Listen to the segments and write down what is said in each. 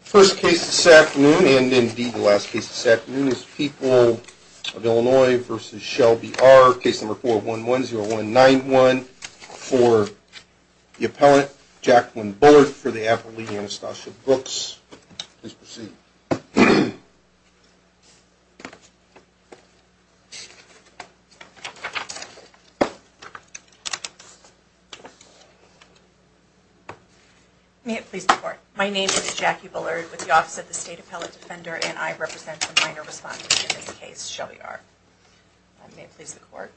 First case this afternoon, and indeed the last case this afternoon, is People of Illinois v. Shelby R., case number 411-0191, for the appellant, Jacqueline Bullard, for the appellee, Anastasia Brooks. Please proceed. May it please the Court. My name is Jackie Bullard with the Office of the State Appellate Defender, and I represent the minor responsibility in this case, Shelby R. May it please the Court.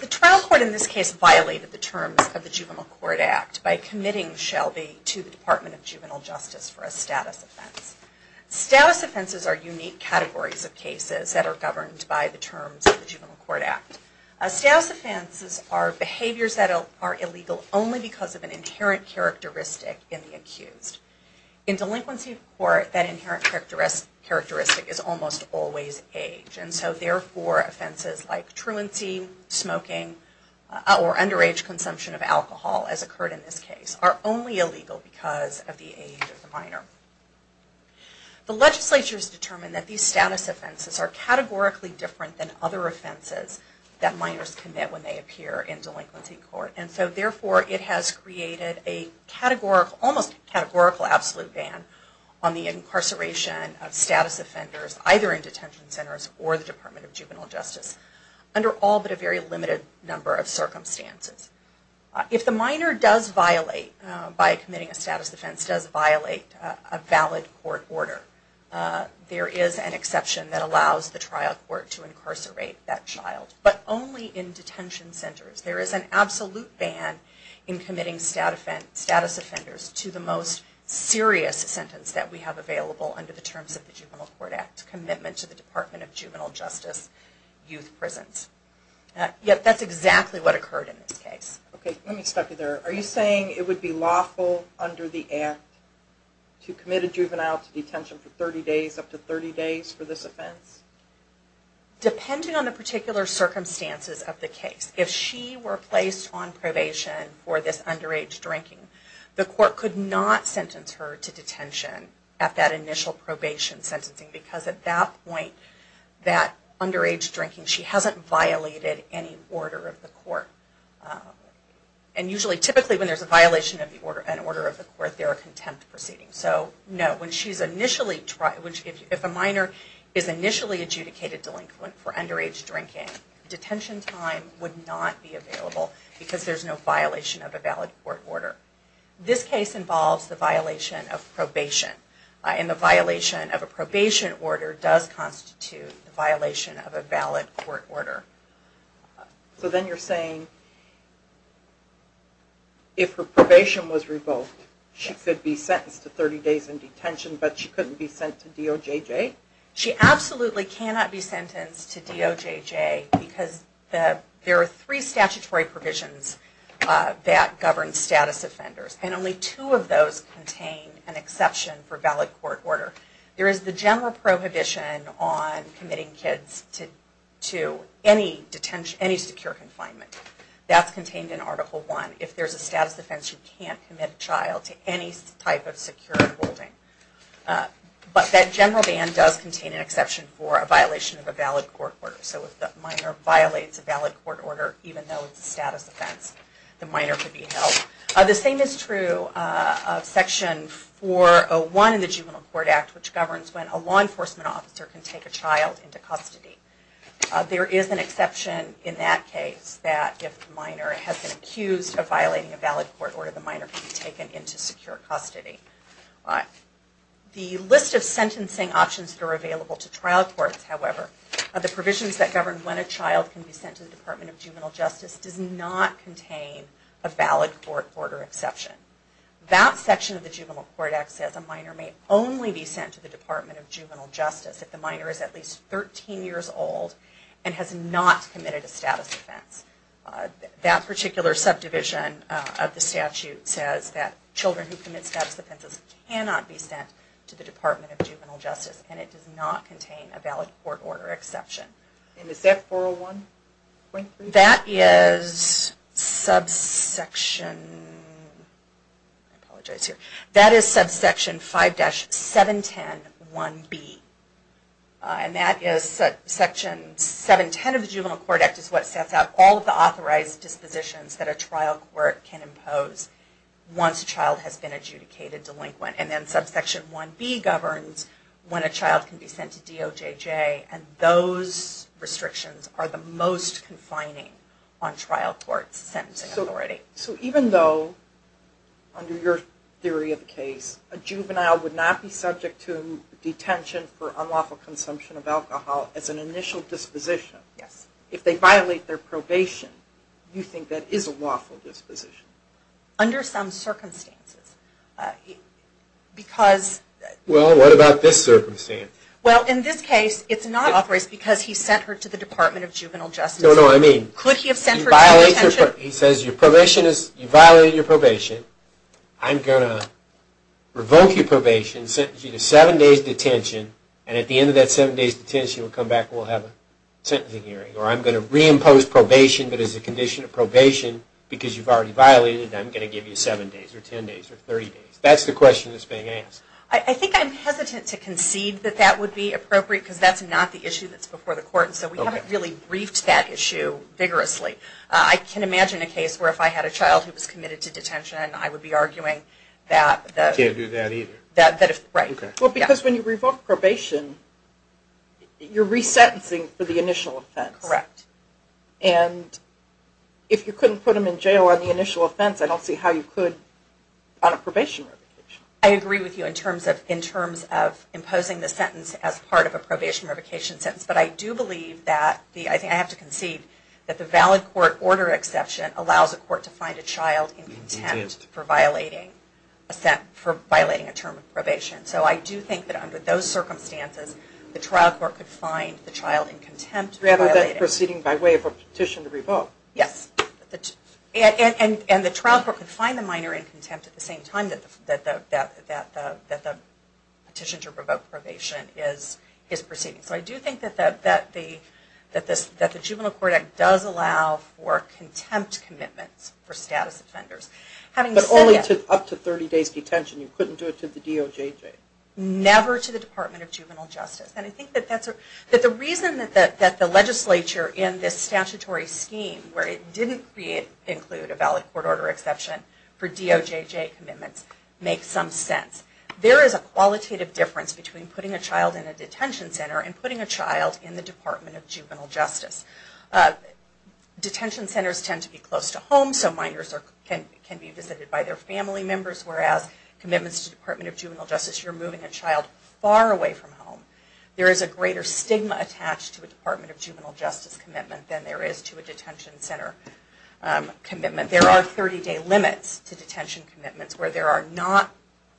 The trial court in this case violated the terms of the Juvenile Court Act by committing Shelby to the Department of Juvenile Justice for a status offense. Status offenses are unique categories of cases that are governed by the terms of the Juvenile Court Act. Status offenses are behaviors that are illegal only because of an inherent characteristic in the accused. In delinquency court, that inherent characteristic is almost always age, and so therefore offenses like truancy, smoking, or underage consumption of alcohol, as occurred in this case, are only illegal because of the age of the minor. The legislature has determined that these status offenses are categorically different than other offenses that minors commit when they appear in delinquency court, and so therefore it has created a almost categorical absolute ban on the incarceration of status offenders, either in detention centers or the Department of Juvenile Justice, under all but a very limited number of circumstances. If the minor does violate, by committing a status offense, does violate a valid court order, there is an exception that allows the trial court to incarcerate that child, but only in detention centers. There is an absolute ban in committing status offenders to the most serious sentence that we have available under the terms of the Juvenile Court Act, commitment to the Department of Juvenile Justice youth prisons. That's exactly what occurred in this case. Let me stop you there. Are you saying it would be lawful under the Act to commit a juvenile to detention for 30 days, up to 30 days for this offense? Depending on the particular circumstances of the case, if she were placed on probation for this underage drinking, the court could not sentence her to detention at that initial probation sentencing, because at that point, that underage drinking, she hasn't violated any order of the court. And usually, typically, when there's a violation of an order of the court, there are contempt proceedings. So, no, if a minor is initially adjudicated delinquent for underage drinking, detention time would not be available because there's no violation of a valid court order. This case involves the violation of probation, and the violation of a probation order does constitute the violation of a valid court order. So then you're saying, if her probation was revoked, she could be sentenced to 30 days in detention, but she couldn't be sent to DOJJ? She absolutely cannot be sentenced to DOJJ, because there are three statutory provisions that govern status offenders, and only two of those contain an exception for a valid court order. There is the general prohibition on committing kids to any secure confinement. That's contained in Article I. If there's a status offense, you can't commit a child to any type of secure holding. But that general ban does contain an exception for a violation of a valid court order. So if the minor violates a valid court order, even though it's a status offense, the minor could be held. The same is true of Section 401 in the Juvenile Court Act, which governs when a law enforcement officer can take a child into custody. There is an exception in that case that if the minor has been accused of violating a valid court order, the minor can be taken into secure custody. The list of sentencing options that are available to trial courts, however, of the provisions that govern when a child can be sent to the Department of Juvenile Justice, does not contain a valid court order exception. That section of the Juvenile Court Act says a minor may only be sent to the Department of Juvenile Justice if the minor is at least 13 years old and has not committed a status offense. That particular subdivision of the statute says that children who commit status offenses cannot be sent to the Department of Juvenile Justice. And it does not contain a valid court order exception. And is that 401? That is subsection 5-7101B. And that is section 710 of the Juvenile Court Act is what sets out all of the authorized dispositions that a trial court can impose once a child has been adjudicated delinquent. And then subsection 1B governs when a child can be sent to DOJJ. And those restrictions are the most confining on trial courts' sentencing authority. So even though, under your theory of the case, a juvenile would not be subject to detention for unlawful consumption of alcohol as an initial disposition, if they violate their probation, you think that is a lawful disposition? Under some circumstances. Because... Well, what about this circumstance? Well, in this case, it's not authorized because he sent her to the Department of Juvenile Justice. No, no, I mean... Could he have sent her to detention? He says, you violated your probation. I'm going to revoke your probation, sentence you to seven days' detention, and at the end of that seven days' detention we'll come back and we'll have a sentencing hearing. Or I'm going to reimpose probation that is a condition of probation because you've already violated it, and I'm going to give you seven days or ten days or thirty days. That's the question that's being asked. I think I'm hesitant to concede that that would be appropriate because that's not the issue that's before the court. So we haven't really briefed that issue vigorously. I can imagine a case where if I had a child who was committed to detention, I would be arguing that... You can't do that either. Right. Well, because when you revoke probation, you're resentencing for the initial offense. Correct. And if you couldn't put them in jail on the initial offense, I don't see how you could on a probation revocation. I agree with you in terms of imposing the sentence as part of a probation revocation sentence, but I do believe that I have to concede that the valid court order exception allows a court to find a child in contempt for violating a term of probation. So I do think that under those circumstances, the trial court could find the child in contempt. Rather than proceeding by way of a petition to revoke. Yes. And the trial court could find the minor in contempt at the same time that the petition to revoke probation is proceeding. So I do think that the Juvenile Court Act does allow for contempt commitments for status offenders. But only up to 30 days detention. You couldn't do it to the DOJJ. Never to the Department of Juvenile Justice. And I think that the reason that the legislature in this statutory scheme, where it didn't include a valid court order exception for DOJJ commitments, makes some sense. There is a qualitative difference between putting a child in a detention center and putting a child in the Department of Juvenile Justice. Detention centers tend to be close to home, so minors can be visited by their family members. Whereas commitments to the Department of Juvenile Justice, you're moving a child far away from home. There is a greater stigma attached to a Department of Juvenile Justice commitment than there is to a detention center commitment. There are 30 day limits to detention commitments where there are not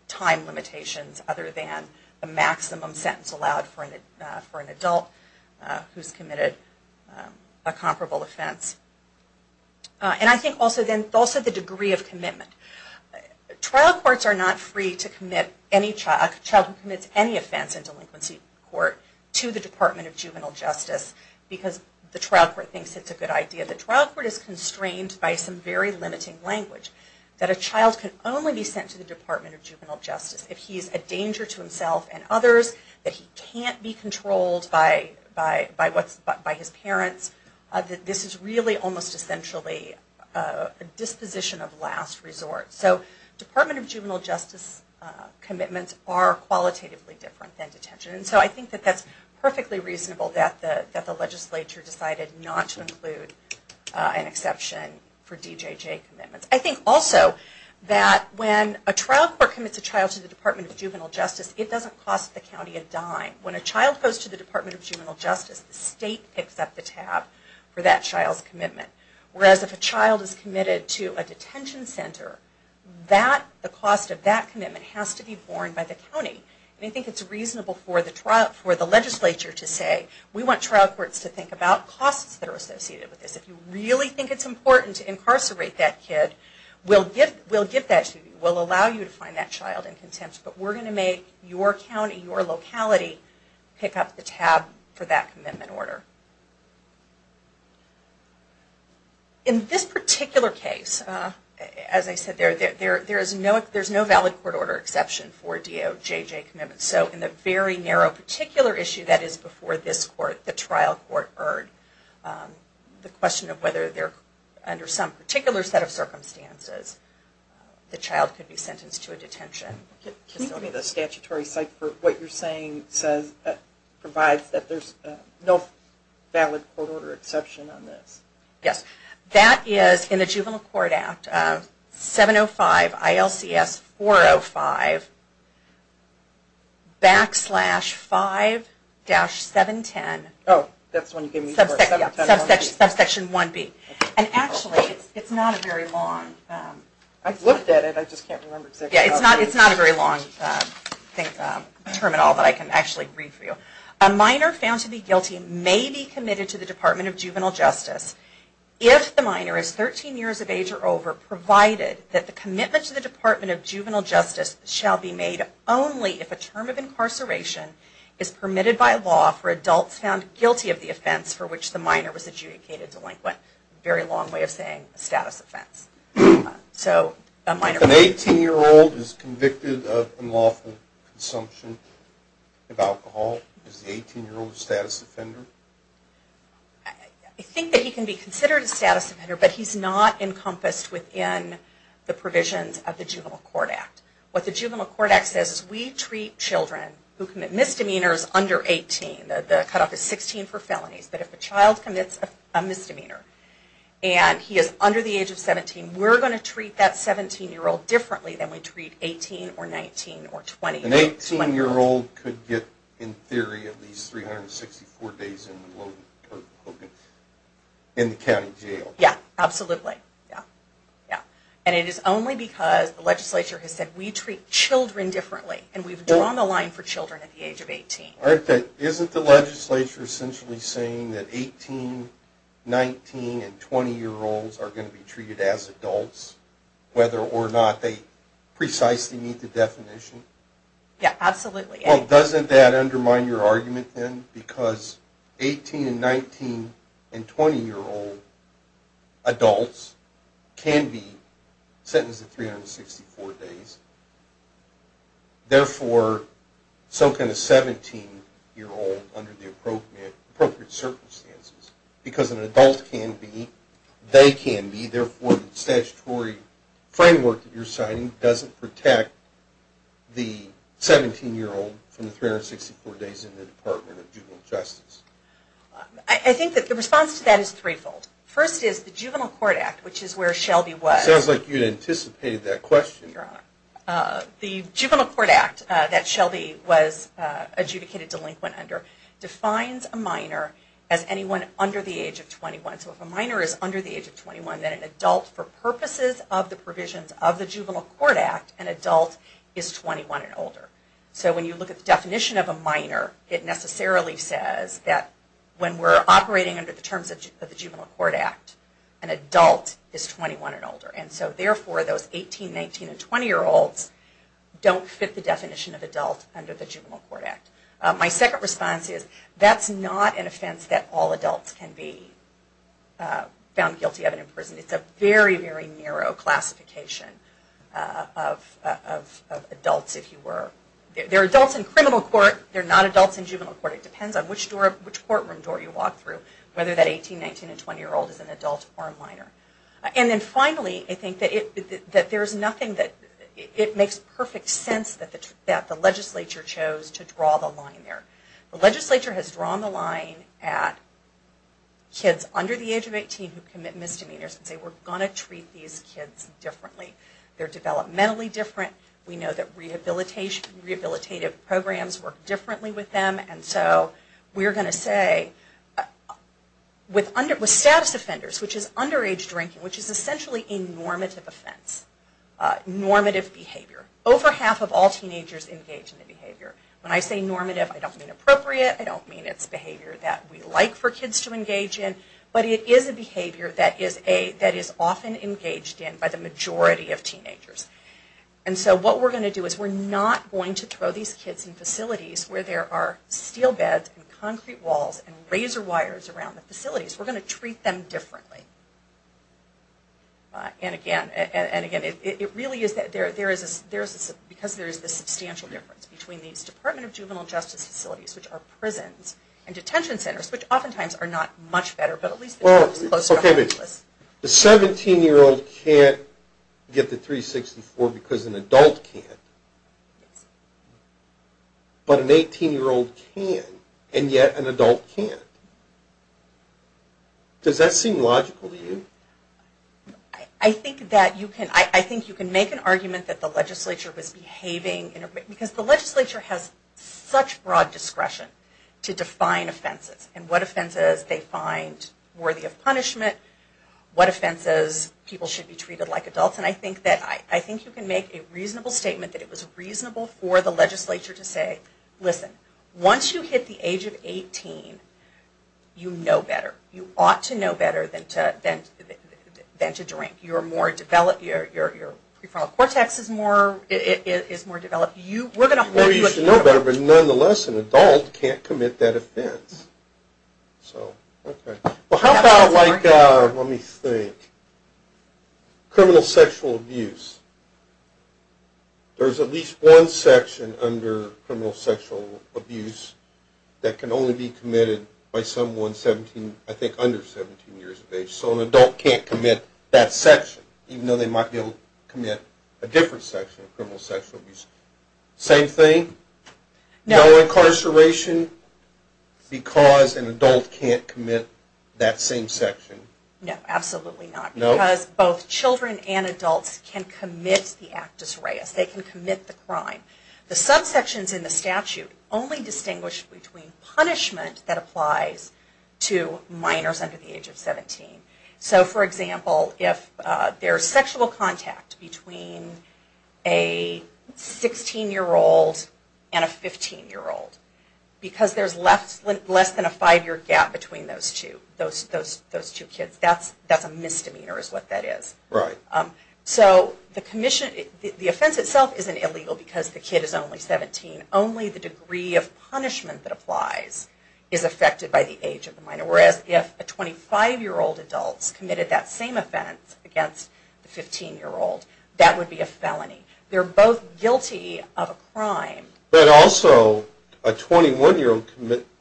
time limitations other than the maximum sentence allowed for an adult who's committed a comparable offense. And I think also the degree of commitment. Trial courts are not free to commit any child, a child who commits any offense in delinquency court, to the Department of Juvenile Justice because the trial court thinks it's a good idea. The trial court is constrained by some very limiting language. That a child can only be sent to the Department of Juvenile Justice if he's a danger to himself and others, that he can't be controlled by his parents. This is really almost essentially a disposition of last resort. So Department of Juvenile Justice commitments are qualitatively different than detention. So I think that's perfectly reasonable that the legislature decided not to include an exception for DJJ commitments. I think also that when a trial court commits a child to the Department of Juvenile Justice, it doesn't cost the county a dime. When a child goes to the Department of Juvenile Justice, the state picks up the tab for that child's commitment. Whereas if a child is committed to a detention center, the cost of that commitment has to be borne by the county. And I think it's reasonable for the legislature to say, we want trial courts to think about costs that are associated with this. If you really think it's important to incarcerate that kid, we'll give that to you. We'll allow you to find that child in contempt, but we're going to make your county, your locality, pick up the tab for that commitment order. In this particular case, as I said, there's no valid court order exception for a DOJJ commitment. So in the very narrow particular issue that is before this court, the trial court, the question of whether under some particular set of circumstances the child could be sentenced to a detention. Can you give me the statutory site for what you're saying provides that there's no valid court order exception on this? Yes, that is in the Juvenile Court Act, 705 ILCS 405, backslash 5-710, subsection 1B. And actually, it's not a very long... It's not a very long term at all that I can actually read for you. A minor found to be guilty may be committed to the Department of Juvenile Justice if the minor is 13 years of age or over, provided that the commitment to the Department of Juvenile Justice shall be made only if a term of incarceration is permitted by law for adults found guilty of the offense for which the minor was adjudicated delinquent. Very long way of saying a status offense. If an 18-year-old is convicted of unlawful consumption of alcohol, is the 18-year-old a status offender? I think that he can be considered a status offender, but he's not encompassed within the provisions of the Juvenile Court Act. What the Juvenile Court Act says is we treat children who commit misdemeanors under 18. The cutoff is 16 for felonies, but if a child commits a misdemeanor and he is under the age of 17, we're going to treat that 17-year-old differently than we treat 18 or 19 or 20. An 18-year-old could get, in theory, at least 364 days in the county jail. Yeah, absolutely. And it is only because the legislature has said we treat children differently and we've drawn the line for children at the age of 18. Isn't the legislature essentially saying that 18, 19, and 20-year-olds are going to be treated as adults, whether or not they precisely meet the definition? Yeah, absolutely. Well, doesn't that undermine your argument then? Because 18, 19, and 20-year-old adults can be sentenced to 364 days. I think that the response to that is threefold. First is the Juvenile Court Act, which is where Shelby was. It sounds like you anticipated that question. The Juvenile Court Act that Shelby was adjudicated delinquent under defines a minor as anyone under the age of 21. So if a minor is under the age of 21, then an adult, for purposes of the provisions of the Juvenile Court Act, an adult is 21 and older. So when you look at the definition of a minor, it necessarily says that when we're operating under the terms of the Juvenile Court Act, an adult is 21 and older. And so therefore those 18, 19, and 20-year-olds don't fit the definition of adult under the Juvenile Court Act. My second response is that's not an offense that all adults can be found guilty of in prison. It's a very, very narrow classification of adults, if you were. They're adults in criminal court. They're not adults in juvenile court. It depends on which courtroom door you walk through, whether that 18, 19, and 20-year-old is an adult or a minor. And then finally, I think that it makes perfect sense that the legislature chose to draw the line there. The legislature has drawn the line at kids under the age of 18 who commit misdemeanors and say, we're going to treat these kids differently. They're developmentally different. We know that rehabilitative programs work differently with them. And so we're going to say, with status offenders, which is underage drinking, which is essentially a normative offense. Normative behavior. Over half of all teenagers engage in that behavior. When I say normative, I don't mean appropriate. I don't mean it's behavior that we like for kids to engage in. But it is a behavior that is often engaged in by the majority of teenagers. And so what we're going to do is we're not going to throw these kids in facilities where there are steel beds and concrete walls and razor wires around the facilities. We're going to treat them differently. And again, it really is because there is this substantial difference between these Department of Juvenile Justice facilities, which are prisons, and detention centers, which oftentimes are not much better. The 17-year-old can't get the 364 because an adult can't. But an 18-year-old can, and yet an adult can't. Does that seem logical to you? I think you can make an argument that the legislature was behaving... Because the legislature has such broad discretion to define offenses and what offenses they find worthy of punishment, what offenses people should be treated like adults. And I think you can make a reasonable statement that it was reasonable for the legislature to say, listen, once you hit the age of 18, you know better. You ought to know better than to drink. Your prefrontal cortex is more developed. Maybe you should know better, but nonetheless an adult can't commit that offense. How about, let me think, criminal sexual abuse. There's at least one section under criminal sexual abuse that can only be committed by someone, I think, under 17 years of age. So an adult can't commit that section, even though they might be able to commit a different section of criminal sexual abuse. Same thing? No incarceration because an adult can't commit that same section? No, absolutely not, because both children and adults can commit the actus reus. They can commit the crime. The subsections in the statute only distinguish between punishment that applies to minors under the age of 17. So, for example, if there's sexual contact between a 16-year-old and a 15-year-old, because there's less than a five-year gap between those two kids, that's a misdemeanor is what that is. The offense itself isn't illegal because the kid is only 17. Only the degree of punishment that applies is affected by the age of the minor. Whereas if a 25-year-old adult committed that same offense against a 15-year-old, that would be a felony. They're both guilty of a crime. But also a 21-year-old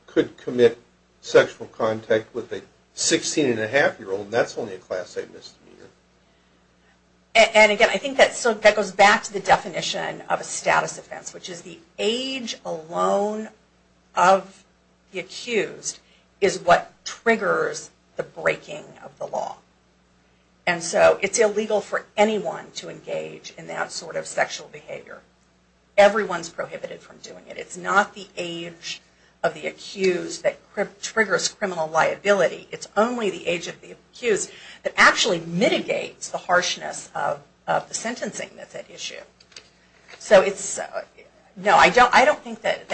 could commit sexual contact with a 16-and-a-half-year-old, and that's only a class A misdemeanor. And again, I think that goes back to the definition of a status offense, which is the age alone of the accused is what triggers the breaking of the law. And so it's illegal for anyone to engage in that sort of sexual behavior. Everyone's prohibited from doing it. It's not the age of the accused that triggers criminal liability. It's only the age of the accused that actually mitigates the harshness of the sentencing method issue. I don't think that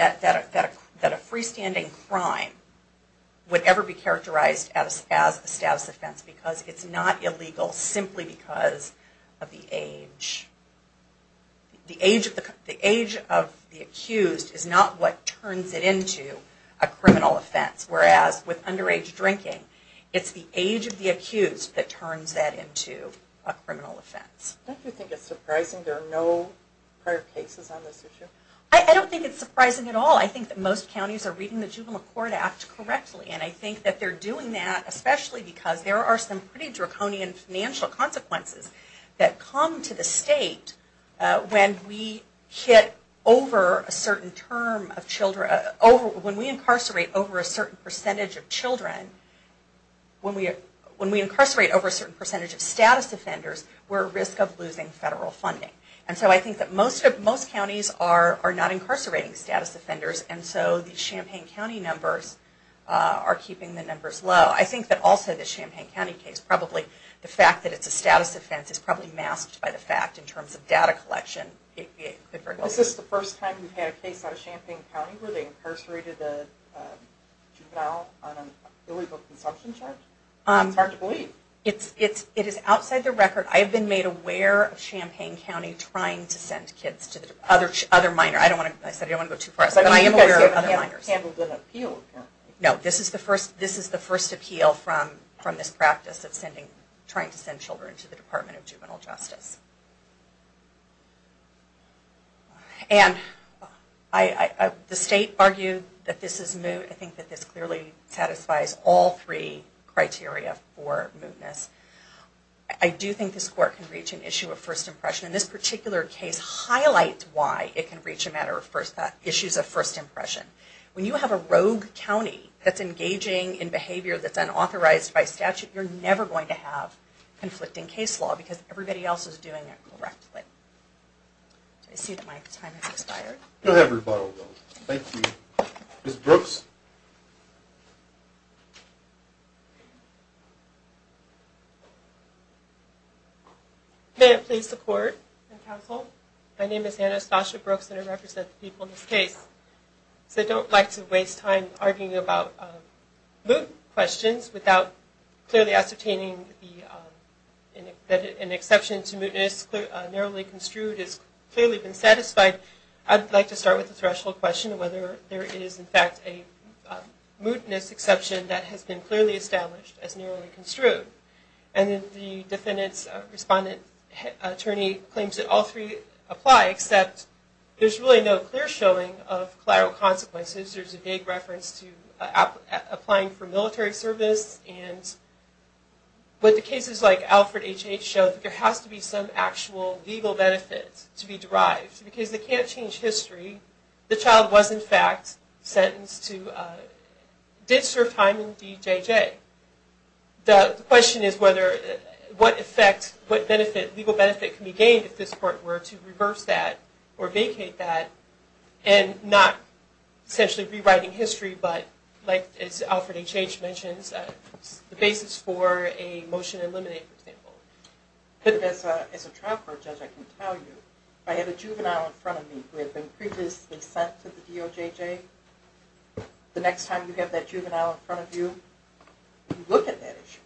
a freestanding crime would ever be characterized as a status offense, because it's not illegal simply because of the age. The age of the accused is not what turns it into a criminal offense. Whereas with underage drinking, it's the age of the accused that turns that into a criminal offense. Don't you think it's surprising there are no prior cases on this issue? I don't think it's surprising at all. I think that most counties are reading the Juvenile Court Act correctly, and I think that they're doing that especially because there are some pretty draconian financial consequences that come to the state when we incarcerate over a certain percentage of children, when we incarcerate over a certain percentage of status offenders, we're at risk of losing federal funding. And so I think that most counties are not incarcerating status offenders, and so the Champaign County numbers are keeping the numbers low. I think that also the Champaign County case, probably the fact that it's a status offense, is probably masked by the fact in terms of data collection. Is this the first time you've had a case out of Champaign County where they incarcerated a juvenile on an illegal consumption charge? It's hard to believe. It is outside the record. I have been made aware of Champaign County trying to send kids to other minors. I said I didn't want to go too far. This is the first appeal from this practice of trying to send children to the Department of Juvenile Justice. And the state argued that this is moot. I think that this clearly satisfies all three criteria for mootness. I do think this court can reach an issue of first impression, and this particular case highlights why it can reach an issue of first impression. When you have a rogue county that's engaging in behavior that's unauthorized by statute, you're never going to have conflicting case law because everybody else is doing it correctly. I see that my time has expired. May I please support the counsel? My name is Anastasia Brooks and I represent the people in this case. I don't like to waste time arguing about moot questions without clearly ascertaining that an exception to mootness narrowly construed has clearly been satisfied. I'd like to start with the threshold question of whether there is in fact a mootness exception that has been clearly established as narrowly construed. And the defendant's respondent attorney claims that all three apply, except there's really no clear showing of collateral consequences. There's a vague reference to applying for military service. But the cases like Alfred H.H. show that there has to be some actual legal benefit to be derived. Because they can't change history. The child was in fact sentenced to, did serve time in D.J.J. The question is what effect, what legal benefit can be gained if this court were to reverse that or vacate that and not essentially rewriting history, but like as Alfred H.H. mentions, the basis for a motion to eliminate for example. As a trial court judge I can tell you, I have a juvenile in front of me who had been previously sent to the D.O.J.J. The next time you have that juvenile in front of you, you look at that issue.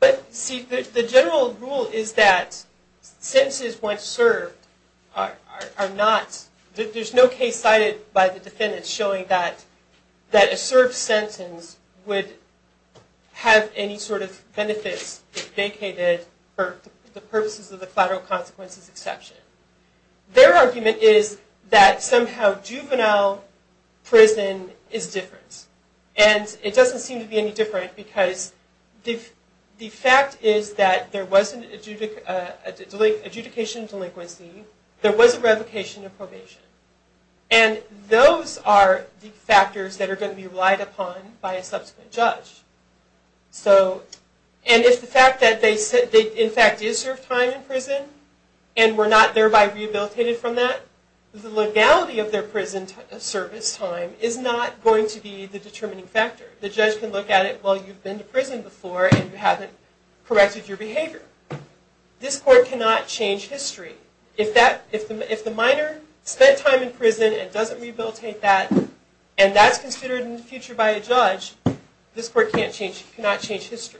But see the general rule is that sentences once served are not, there's no case cited by the defendant showing that a served sentence would have any sort of benefits if vacated for the purposes of the collateral consequences exception. Their argument is that somehow juvenile prison is different. And it doesn't seem to be any different because the fact is that there wasn't adjudication of delinquency, and those are the factors that are going to be relied upon by a subsequent judge. And if the fact that they in fact did serve time in prison and were not thereby rehabilitated from that, the legality of their prison service time is not going to be the determining factor. The judge can look at it, well you've been to prison before and you haven't corrected your behavior. This court cannot change history. If the minor spent time in prison and doesn't rehabilitate that, and that's considered in the future by a judge, this court cannot change history.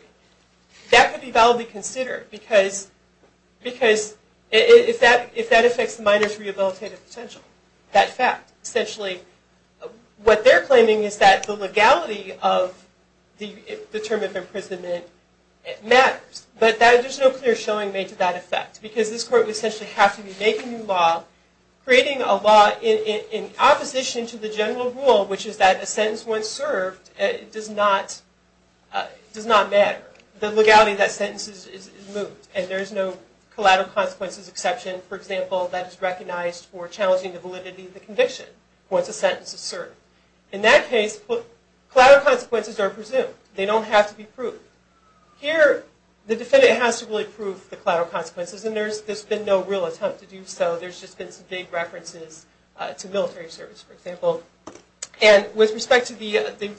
That could be validly considered because if that affects the minor's rehabilitative potential. Essentially what they're claiming is that the legality of the term of imprisonment matters. But there's no clear showing made to that effect because this court would essentially have to be making new law, creating a law in opposition to the general rule, which is that a sentence once served does not matter. The legality of that sentence is moved and there's no collateral consequences exception, for example, that is recognized for challenging the validity of the conviction once a sentence is served. In that case, collateral consequences are presumed. They don't have to be proved. Here, the defendant has to really prove the collateral consequences and there's been no real attempt to do so. There's just been some vague references to military service, for example. With respect to the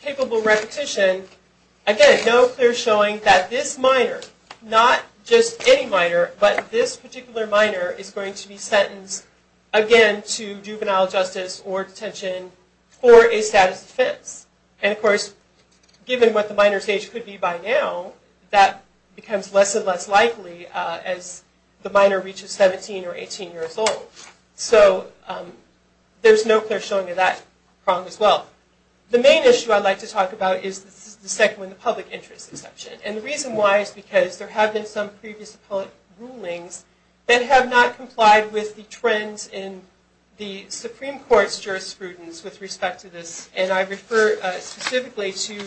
capable repetition, again, no clear showing that this minor, not just any minor, but this particular minor is going to be sentenced again to juvenile justice or detention for a status defense. Of course, given what the minor's age could be by now, that becomes less and less likely as the minor reaches 17 or 18 years old. So there's no clear showing of that problem as well. The main issue I'd like to talk about is the second one, the public interest exception. And the reason why is because there have been some previous appellate rulings that have not complied with the trends in the Supreme Court's jurisprudence with respect to this. And I refer specifically to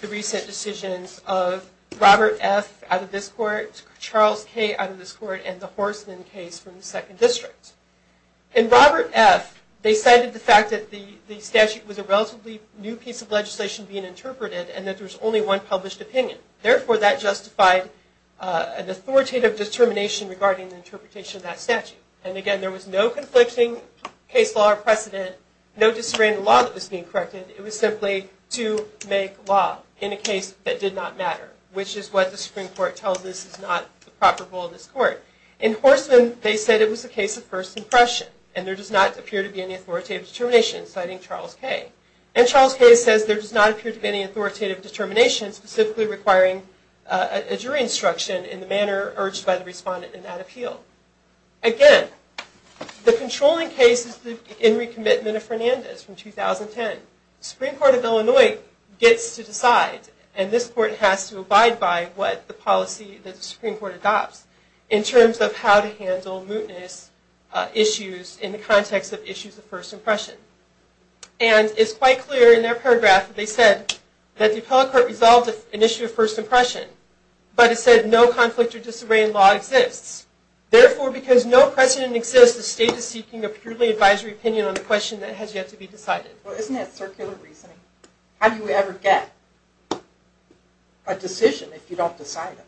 the recent decisions of Robert F. out of this court, Charles K. out of this court, and the Horstman case from the Second District. In Robert F., they cited the fact that the statute was a relatively new piece of legislation being interpreted and that there was only one published opinion. Therefore, that justified an authoritative determination regarding the interpretation of that statute. And again, there was no conflicting case law precedent, no disarray in the law that was being corrected. It was simply to make law in a case that did not matter, which is what the Supreme Court tells us is not the proper goal of this court. In Horstman, they said it was a case of first impression, and there does not appear to be any authoritative determination, citing Charles K. And Charles K. says there does not appear to be any authoritative determination specifically requiring a jury instruction in the manner urged by the respondent in that appeal. Again, the controlling case is the Henry Commitment of Fernandez from 2010. The Supreme Court of Illinois gets to decide, and this court has to abide by what the policy that the Supreme Court adopts in terms of how to handle mootness issues in the context of issues of first impression. And it's quite clear in their paragraph that they said that the appellate court resolved an issue of first impression, but it said no conflict or disarray in law exists. Therefore, because no precedent exists, the state is seeking a purely advisory opinion on the question that has yet to be decided. Well, isn't that circular reasoning? How do you ever get a decision if you don't decide it?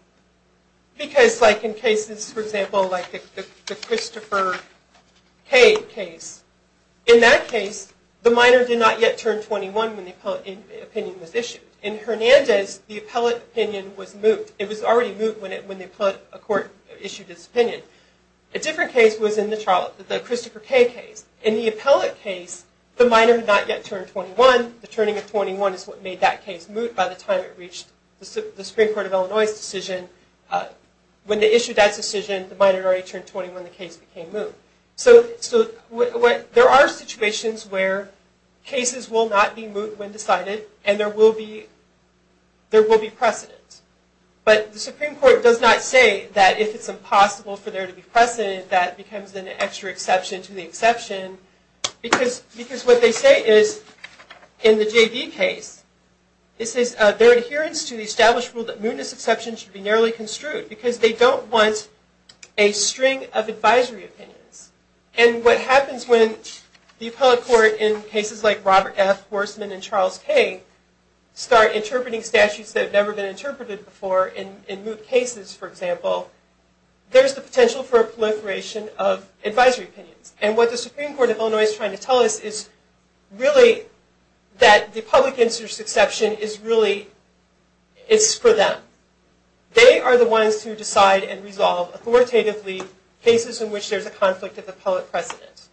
Because, like, in cases, for example, like the Christopher K. case, in that case, the minor did not yet turn 21 when the appellate opinion was issued. In Fernandez, the appellate opinion was moot. It was already moot when a court issued its opinion. A different case was in the Christopher K. case. In the appellate case, the minor had not yet turned 21. The turning of 21 is what made that case moot by the time it reached the Supreme Court of Illinois's decision. When they issued that decision, the minor had already turned 21 when the case became moot. So there are situations where cases will not be moot when decided, and there will be precedent. But the Supreme Court does not say that if it's impossible for there to be precedent, that becomes an extra exception to the exception. Because what they say is, in the J.D. case, it says their adherence to the established rule that mootness exceptions should be narrowly construed, because they don't want a string of advisory opinions. And what happens when the appellate court, in cases like Robert F. Horsman and Charles K., start interpreting statutes that have never been interpreted before in moot cases, for example, there's the potential for a proliferation of advisory opinions. And what the Supreme Court of Illinois is trying to tell us is, really, that the public interest exception is really, it's for them. They are the ones who decide and resolve, authoritatively, cases in which there's a conflict of appellate precedent.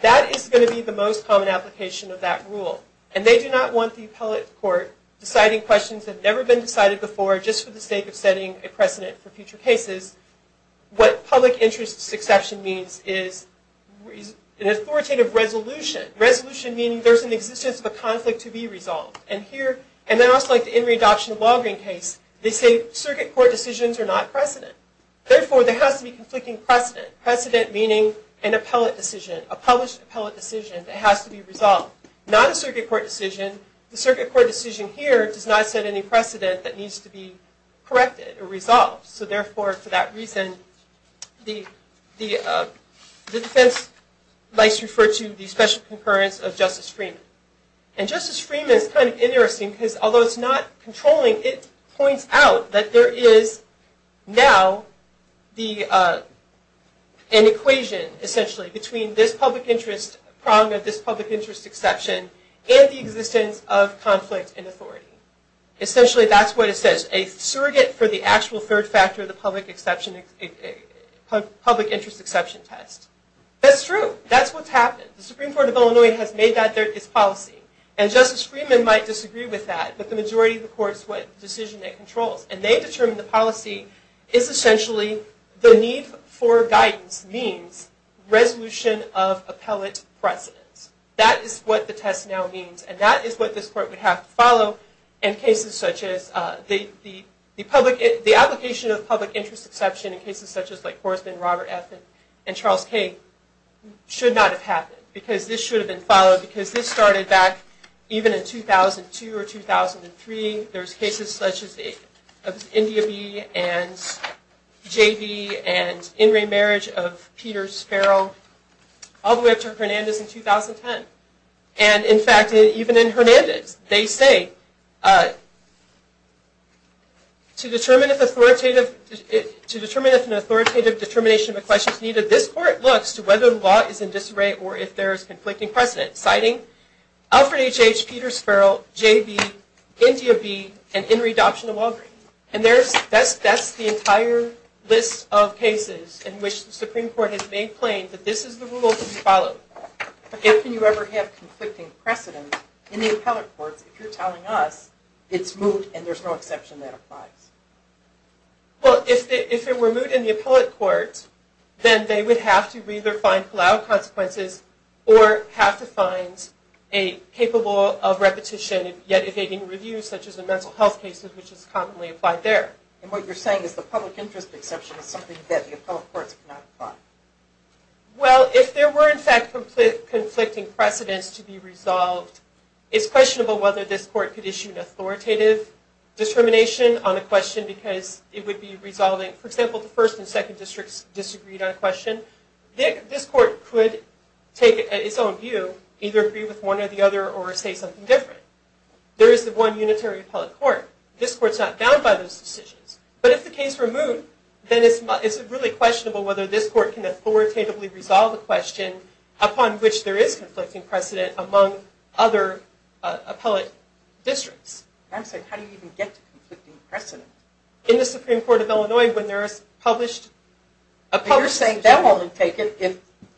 That is going to be the most common application of that rule. And they do not want the appellate court deciding questions that have never been decided before, just for the sake of setting a precedent for future cases. What public interest exception means is an authoritative resolution. And here, and then also like the In Re Adoption of Walgreens case, they say circuit court decisions are not precedent. Therefore, there has to be conflicting precedent. Precedent meaning an appellate decision, a published appellate decision that has to be resolved. Not a circuit court decision. The circuit court decision here does not set any precedent that needs to be corrected or resolved. So therefore, for that reason, the defense likes to refer to the special concurrence of Justice Freeman. And Justice Freeman is kind of interesting, because although it's not controlling, it points out that there is now an equation, essentially, between this public interest prong of this public interest exception and the existence of conflict in authority. Essentially, that's what it says. A surrogate for the actual third factor of the public interest exception test. That's true. That's what's happened. The Supreme Court of Illinois has made that their policy. And Justice Freeman might disagree with that, but the majority of the court is what decision it controls. And they determine the policy is essentially the need for guidance means resolution of appellate precedence. That is what the test now means. And that is what this court would have to follow in cases such as the application of public interest exception in cases such as Horstman, Robert F., and Charles K. should not have happened. Because this should have been followed. Because this started back even in 2002 or 2003. There's cases such as India B. and J.B. and in re-marriage of Peter Sparrow, all the way up to Hernandez in 2010. And in fact, even in Hernandez, they say, to determine if an authoritative determination of a question is needed, this court looks to whether the law is in disarray or if there is conflicting precedent, citing Alfred H.H., Peter Sparrow, J.B., India B., and in re-adoption of Walgreens. And that's the entire list of cases in which the Supreme Court has made plain that this is the rule to follow. If you ever have conflicting precedent in the appellate courts, if you're telling us it's moot and there's no exception that applies. Well, if it were moot in the appellate courts, then they would have to either find allowed consequences or have to find a capable of repetition yet evading review, such as in mental health cases, which is commonly applied there. And what you're saying is the public interest exception is something that the appellate courts cannot apply. Well, if there were, in fact, conflicting precedents to be resolved, it's questionable whether this court could issue an authoritative determination on a question because it would be resolving, for example, the first and second districts disagreed on a question. This court could take its own view, either agree with one or the other, or say something different. There is one unitary appellate court. This court's not bound by those decisions. But if the case were moot, then it's really questionable whether this court can authoritatively resolve a question upon which there is conflicting precedent among other appellate districts. I'm saying, how do you even get to conflicting precedent? In the Supreme Court of Illinois, when there is published... You're saying they'll only take it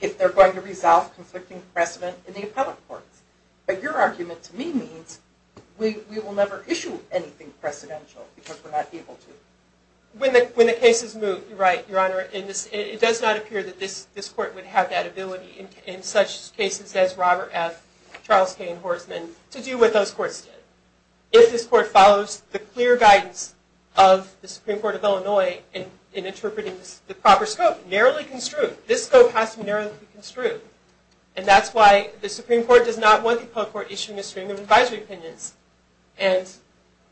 if they're going to resolve conflicting precedent in the appellate courts. But your argument to me means we will never issue anything precedential because we're not able to. When the case is moot, you're right, Your Honor. It does not appear that this court would have that ability, in such cases as Robert F., Charles K., and Horsman, to do what those courts did. If this court follows the clear guidance of the Supreme Court of Illinois in interpreting the proper scope, narrowly construed. This scope has to be narrowly construed. And that's why the Supreme Court does not want the appellate court issuing a stream of advisory opinions. And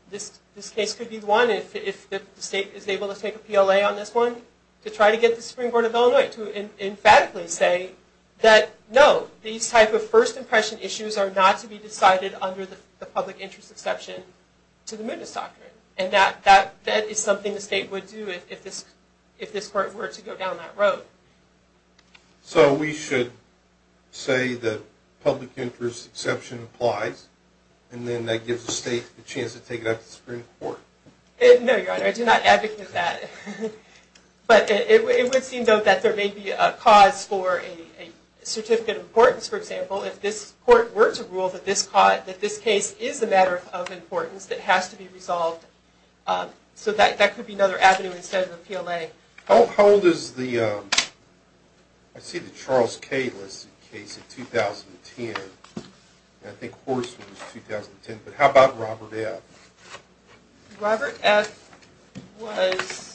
this case could be the one, if the state is able to take a PLA on this one, to try to get the Supreme Court of Illinois to emphatically say that, no, these type of first impression issues are not to be decided under the public interest exception to the mootness doctrine. And that is something the state would do if this court were to go down that road. So we should say that public interest exception applies, and then that gives the state a chance to take it up to the Supreme Court? No, Your Honor, I do not advocate that. But it would seem, though, that there may be a cause for a certificate of importance, for example, if this court were to rule that this case is a matter of importance that has to be resolved. So that could be another avenue instead of a PLA. How old is the – I see the Charles K. listed case in 2010. And I think Horst was in 2010. But how about Robert F.? Robert F. was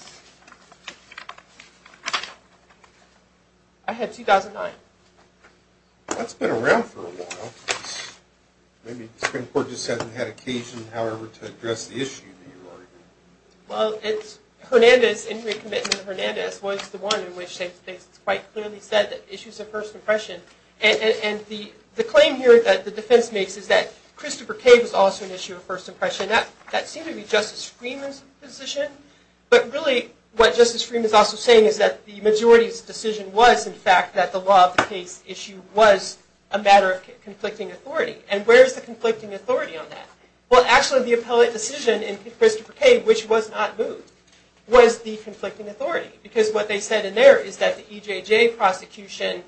– I had 2009. That's been around for a while. Maybe the Supreme Court just hasn't had occasion, however, to address the issue that you're arguing. Well, it's Hernandez, Henry Commitment to Hernandez, was the one in which they quite clearly said that the issue is a first impression. And the claim here that the defense makes is that Christopher K. was also an issue of first impression. That seemed to be Justice Freeman's position. But really what Justice Freeman is also saying is that the majority's decision was, in fact, that the law of the case issue was a matter of conflicting authority. And where is the conflicting authority on that? Well, actually, the appellate decision in Christopher K., which was not moved, was the conflicting authority. Because what they said in there is that the EJJ prosecution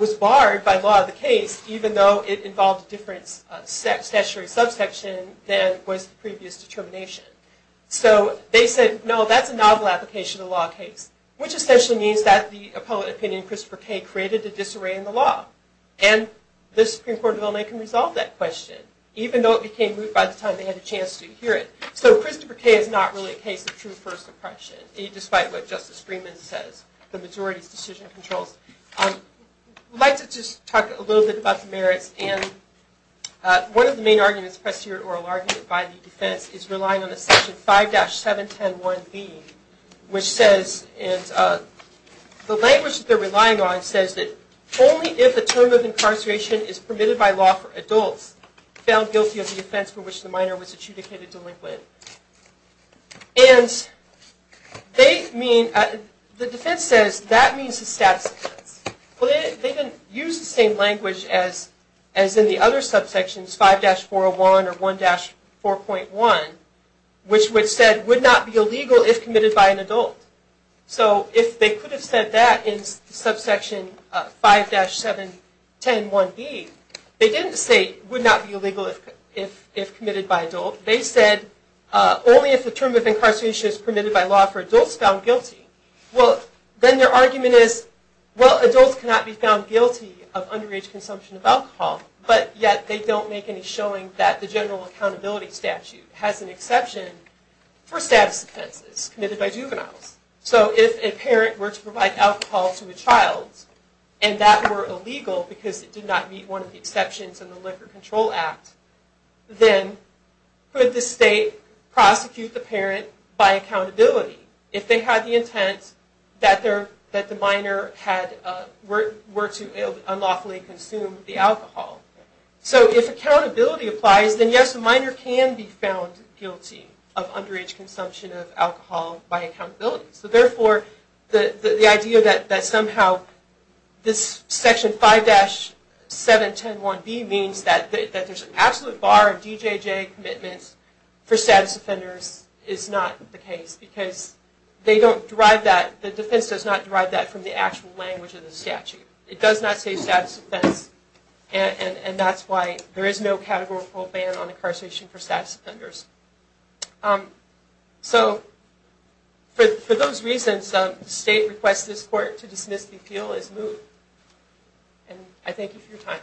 was barred by law of the case, even though it involved a different statutory subsection than was the previous determination. So they said, no, that's a novel application of the law of the case, which essentially means that the appellate opinion in Christopher K. created a disarray in the law. And the Supreme Court of Illinois can resolve that question, even though it became moot by the time they had a chance to hear it. So Christopher K. is not really a case of true first impression, despite what Justice Freeman says. The majority's decision controls. I'd like to just talk a little bit about the merits. And one of the main arguments, a prestigious oral argument by the defense, is relying on the section 5-7101B, which says, and the language that they're relying on says that only if the term of incarceration is permitted by law for adults found guilty of the offense for which the minor was adjudicated delinquent. And the defense says that means the status offense. They didn't use the same language as in the other subsections, 5-401 or 1-4.1, which said would not be illegal if committed by an adult. So if they could have said that in subsection 5-7101B, they didn't say would not be illegal if committed by an adult. They said only if the term of incarceration is permitted by law for adults found guilty. Well, then their argument is, well, adults cannot be found guilty of underage consumption of alcohol, but yet they don't make any showing that the general accountability statute has an exception for status offenses committed by juveniles. So if a parent were to provide alcohol to a child and that were illegal because it did not meet one of the exceptions in the Liquor Control Act, then could the state prosecute the parent by accountability if they had the intent that the minor were to unlawfully consume the alcohol? So if accountability applies, then yes, a minor can be found guilty of underage consumption of alcohol by accountability. So therefore, the idea that somehow this section 5-7101B means that there's an absolute bar of DJJ commitments for status offenders is not the case because the defense does not derive that from the actual language of the statute. It does not say status offense. And that's why there is no categorical ban on incarceration for status offenders. So for those reasons, the state requests this court to dismiss the appeal as moved. And I thank you for your time.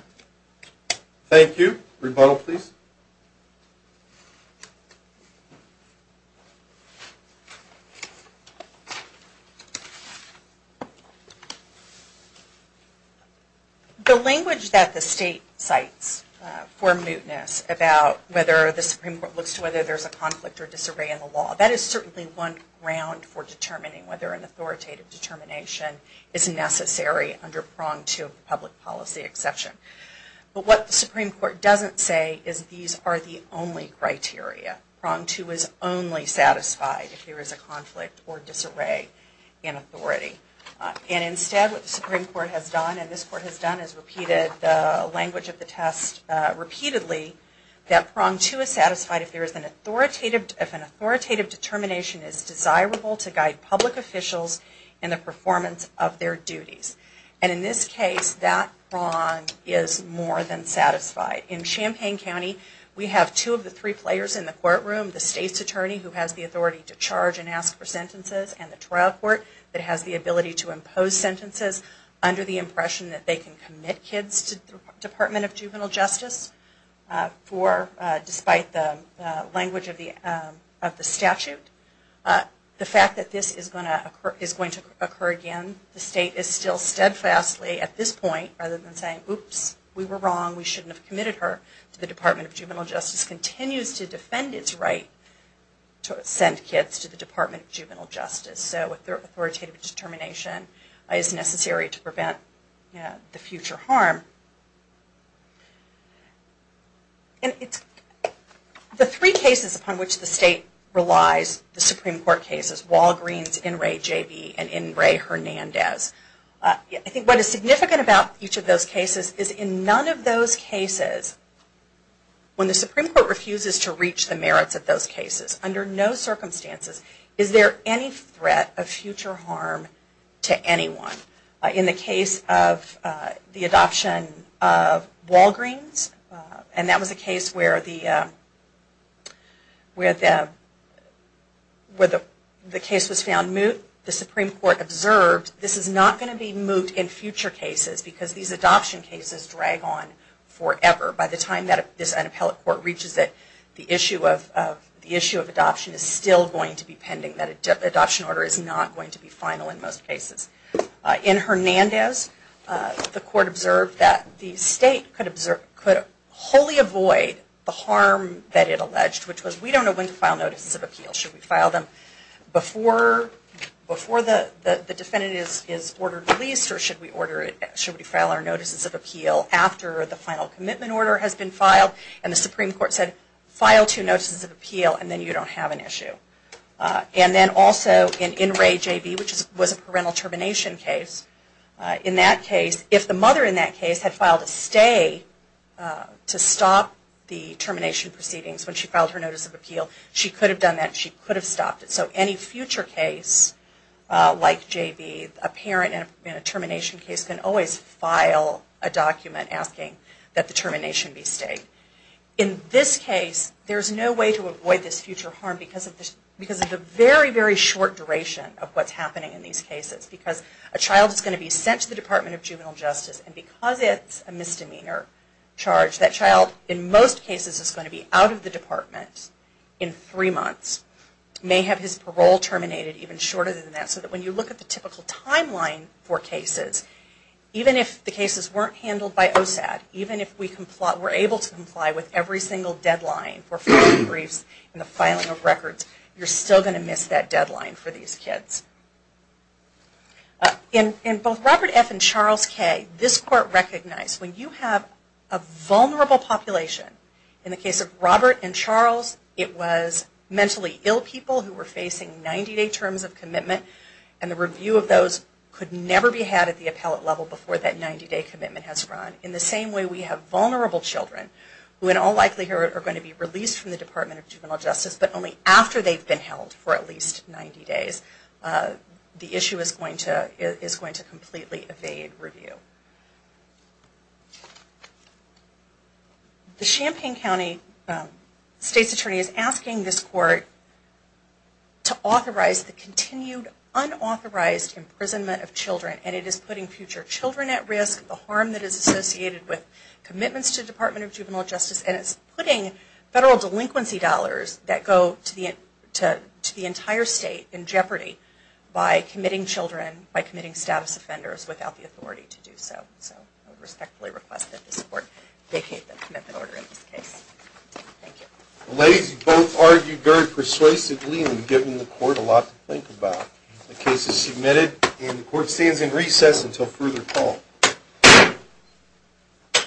Thank you. Rebuttal, please. The language that the state cites for mootness about whether the Supreme Court looks to whether there's a conflict or disarray in the law, that is certainly one ground for determining whether an authoritative determination is necessary under Prong 2 of the Public Policy Exception. But what the Supreme Court doesn't say is these are the only criteria. Prong 2 is only satisfied if there is a conflict or disarray in authority. And instead, what the Supreme Court has done, and this court has done, is repeated the language of the test repeatedly that Prong 2 is satisfied if an authoritative determination is desirable to guide public officials in the performance of their duties. And in this case, that prong is more than satisfied. In Champaign County, we have two of the three players in the courtroom, the state's attorney who has the authority to charge and ask for sentences, and the trial court that has the ability to impose sentences under the impression that they can commit kids to the Department of Juvenile Justice despite the language of the statute. The fact that this is going to occur again, the state is still steadfastly at this point, rather than saying, oops, we were wrong, we shouldn't have committed her to the Department of Juvenile Justice, continues to defend its right to send kids to the Department of Juvenile Justice. So authoritative determination is necessary to prevent the future harm. The three cases upon which the state relies, the Supreme Court cases, Walgreens, In re, J.B., and In re, Hernandez, I think what is significant about each of those cases is in none of those cases, when the Supreme Court refuses to reach the merits of those cases, under no circumstances is there any threat of future harm to anyone. In the case of the adoption of Walgreens, and that was a case where the case was found moot, the Supreme Court observed this is not going to be moot in future cases because these adoption cases drag on forever. By the time this inappellate court reaches it, the issue of adoption is still going to be pending. That adoption order is not going to be final in most cases. In Hernandez, the court observed that the state could wholly avoid the harm that it alleged, which was we don't know when to file notices of appeal. Should we file them before the defendant is ordered released, or should we file our notices of appeal after the final commitment order has been filed? And the Supreme Court said, file two notices of appeal, and then you don't have an issue. And then also in In re, J.B., which was a parental termination case, in that case, if the mother in that case had filed a stay to stop the termination proceedings when she filed her notice of appeal, she could have done that. She could have stopped it. So any future case like J.B., a parent in a termination case, can always file a document asking that the termination be stayed. In this case, there's no way to avoid this future harm because of the very, very short duration of what's happening in these cases. Because a child is going to be sent to the Department of Juvenile Justice, and because it's a misdemeanor charge, that child in most cases is going to be out of the department in three months, may have his parole terminated even shorter than that. So that when you look at the typical timeline for cases, even if the cases weren't handled by OSAD, even if we were able to comply with every single deadline for filing briefs and the filing of records, you're still going to miss that deadline for these kids. In both Robert F. and Charles K., this Court recognized when you have a vulnerable population, in the case of Robert and Charles, it was mentally ill people who were facing 90-day terms of commitment, and the review of those could never be had at the appellate level before that 90-day commitment has run. In the same way we have vulnerable children, who in all likelihood are going to be released from the Department of Juvenile Justice, but only after they've been held for at least 90 days, the issue is going to completely evade review. The Champaign County State's Attorney is asking this Court to authorize the continued unauthorized imprisonment of children, and it is putting future children at risk, the harm that is associated with commitments to the Department of Juvenile Justice, and it's putting federal delinquency dollars that go to the entire state in jeopardy by committing children, by committing status offenders without the authority to do so. So I respectfully request that this Court vacate the commitment order in this case. Thank you. Ladies, you both argued very persuasively and have given the Court a lot to think about. The case is submitted and the Court stands in recess until further call.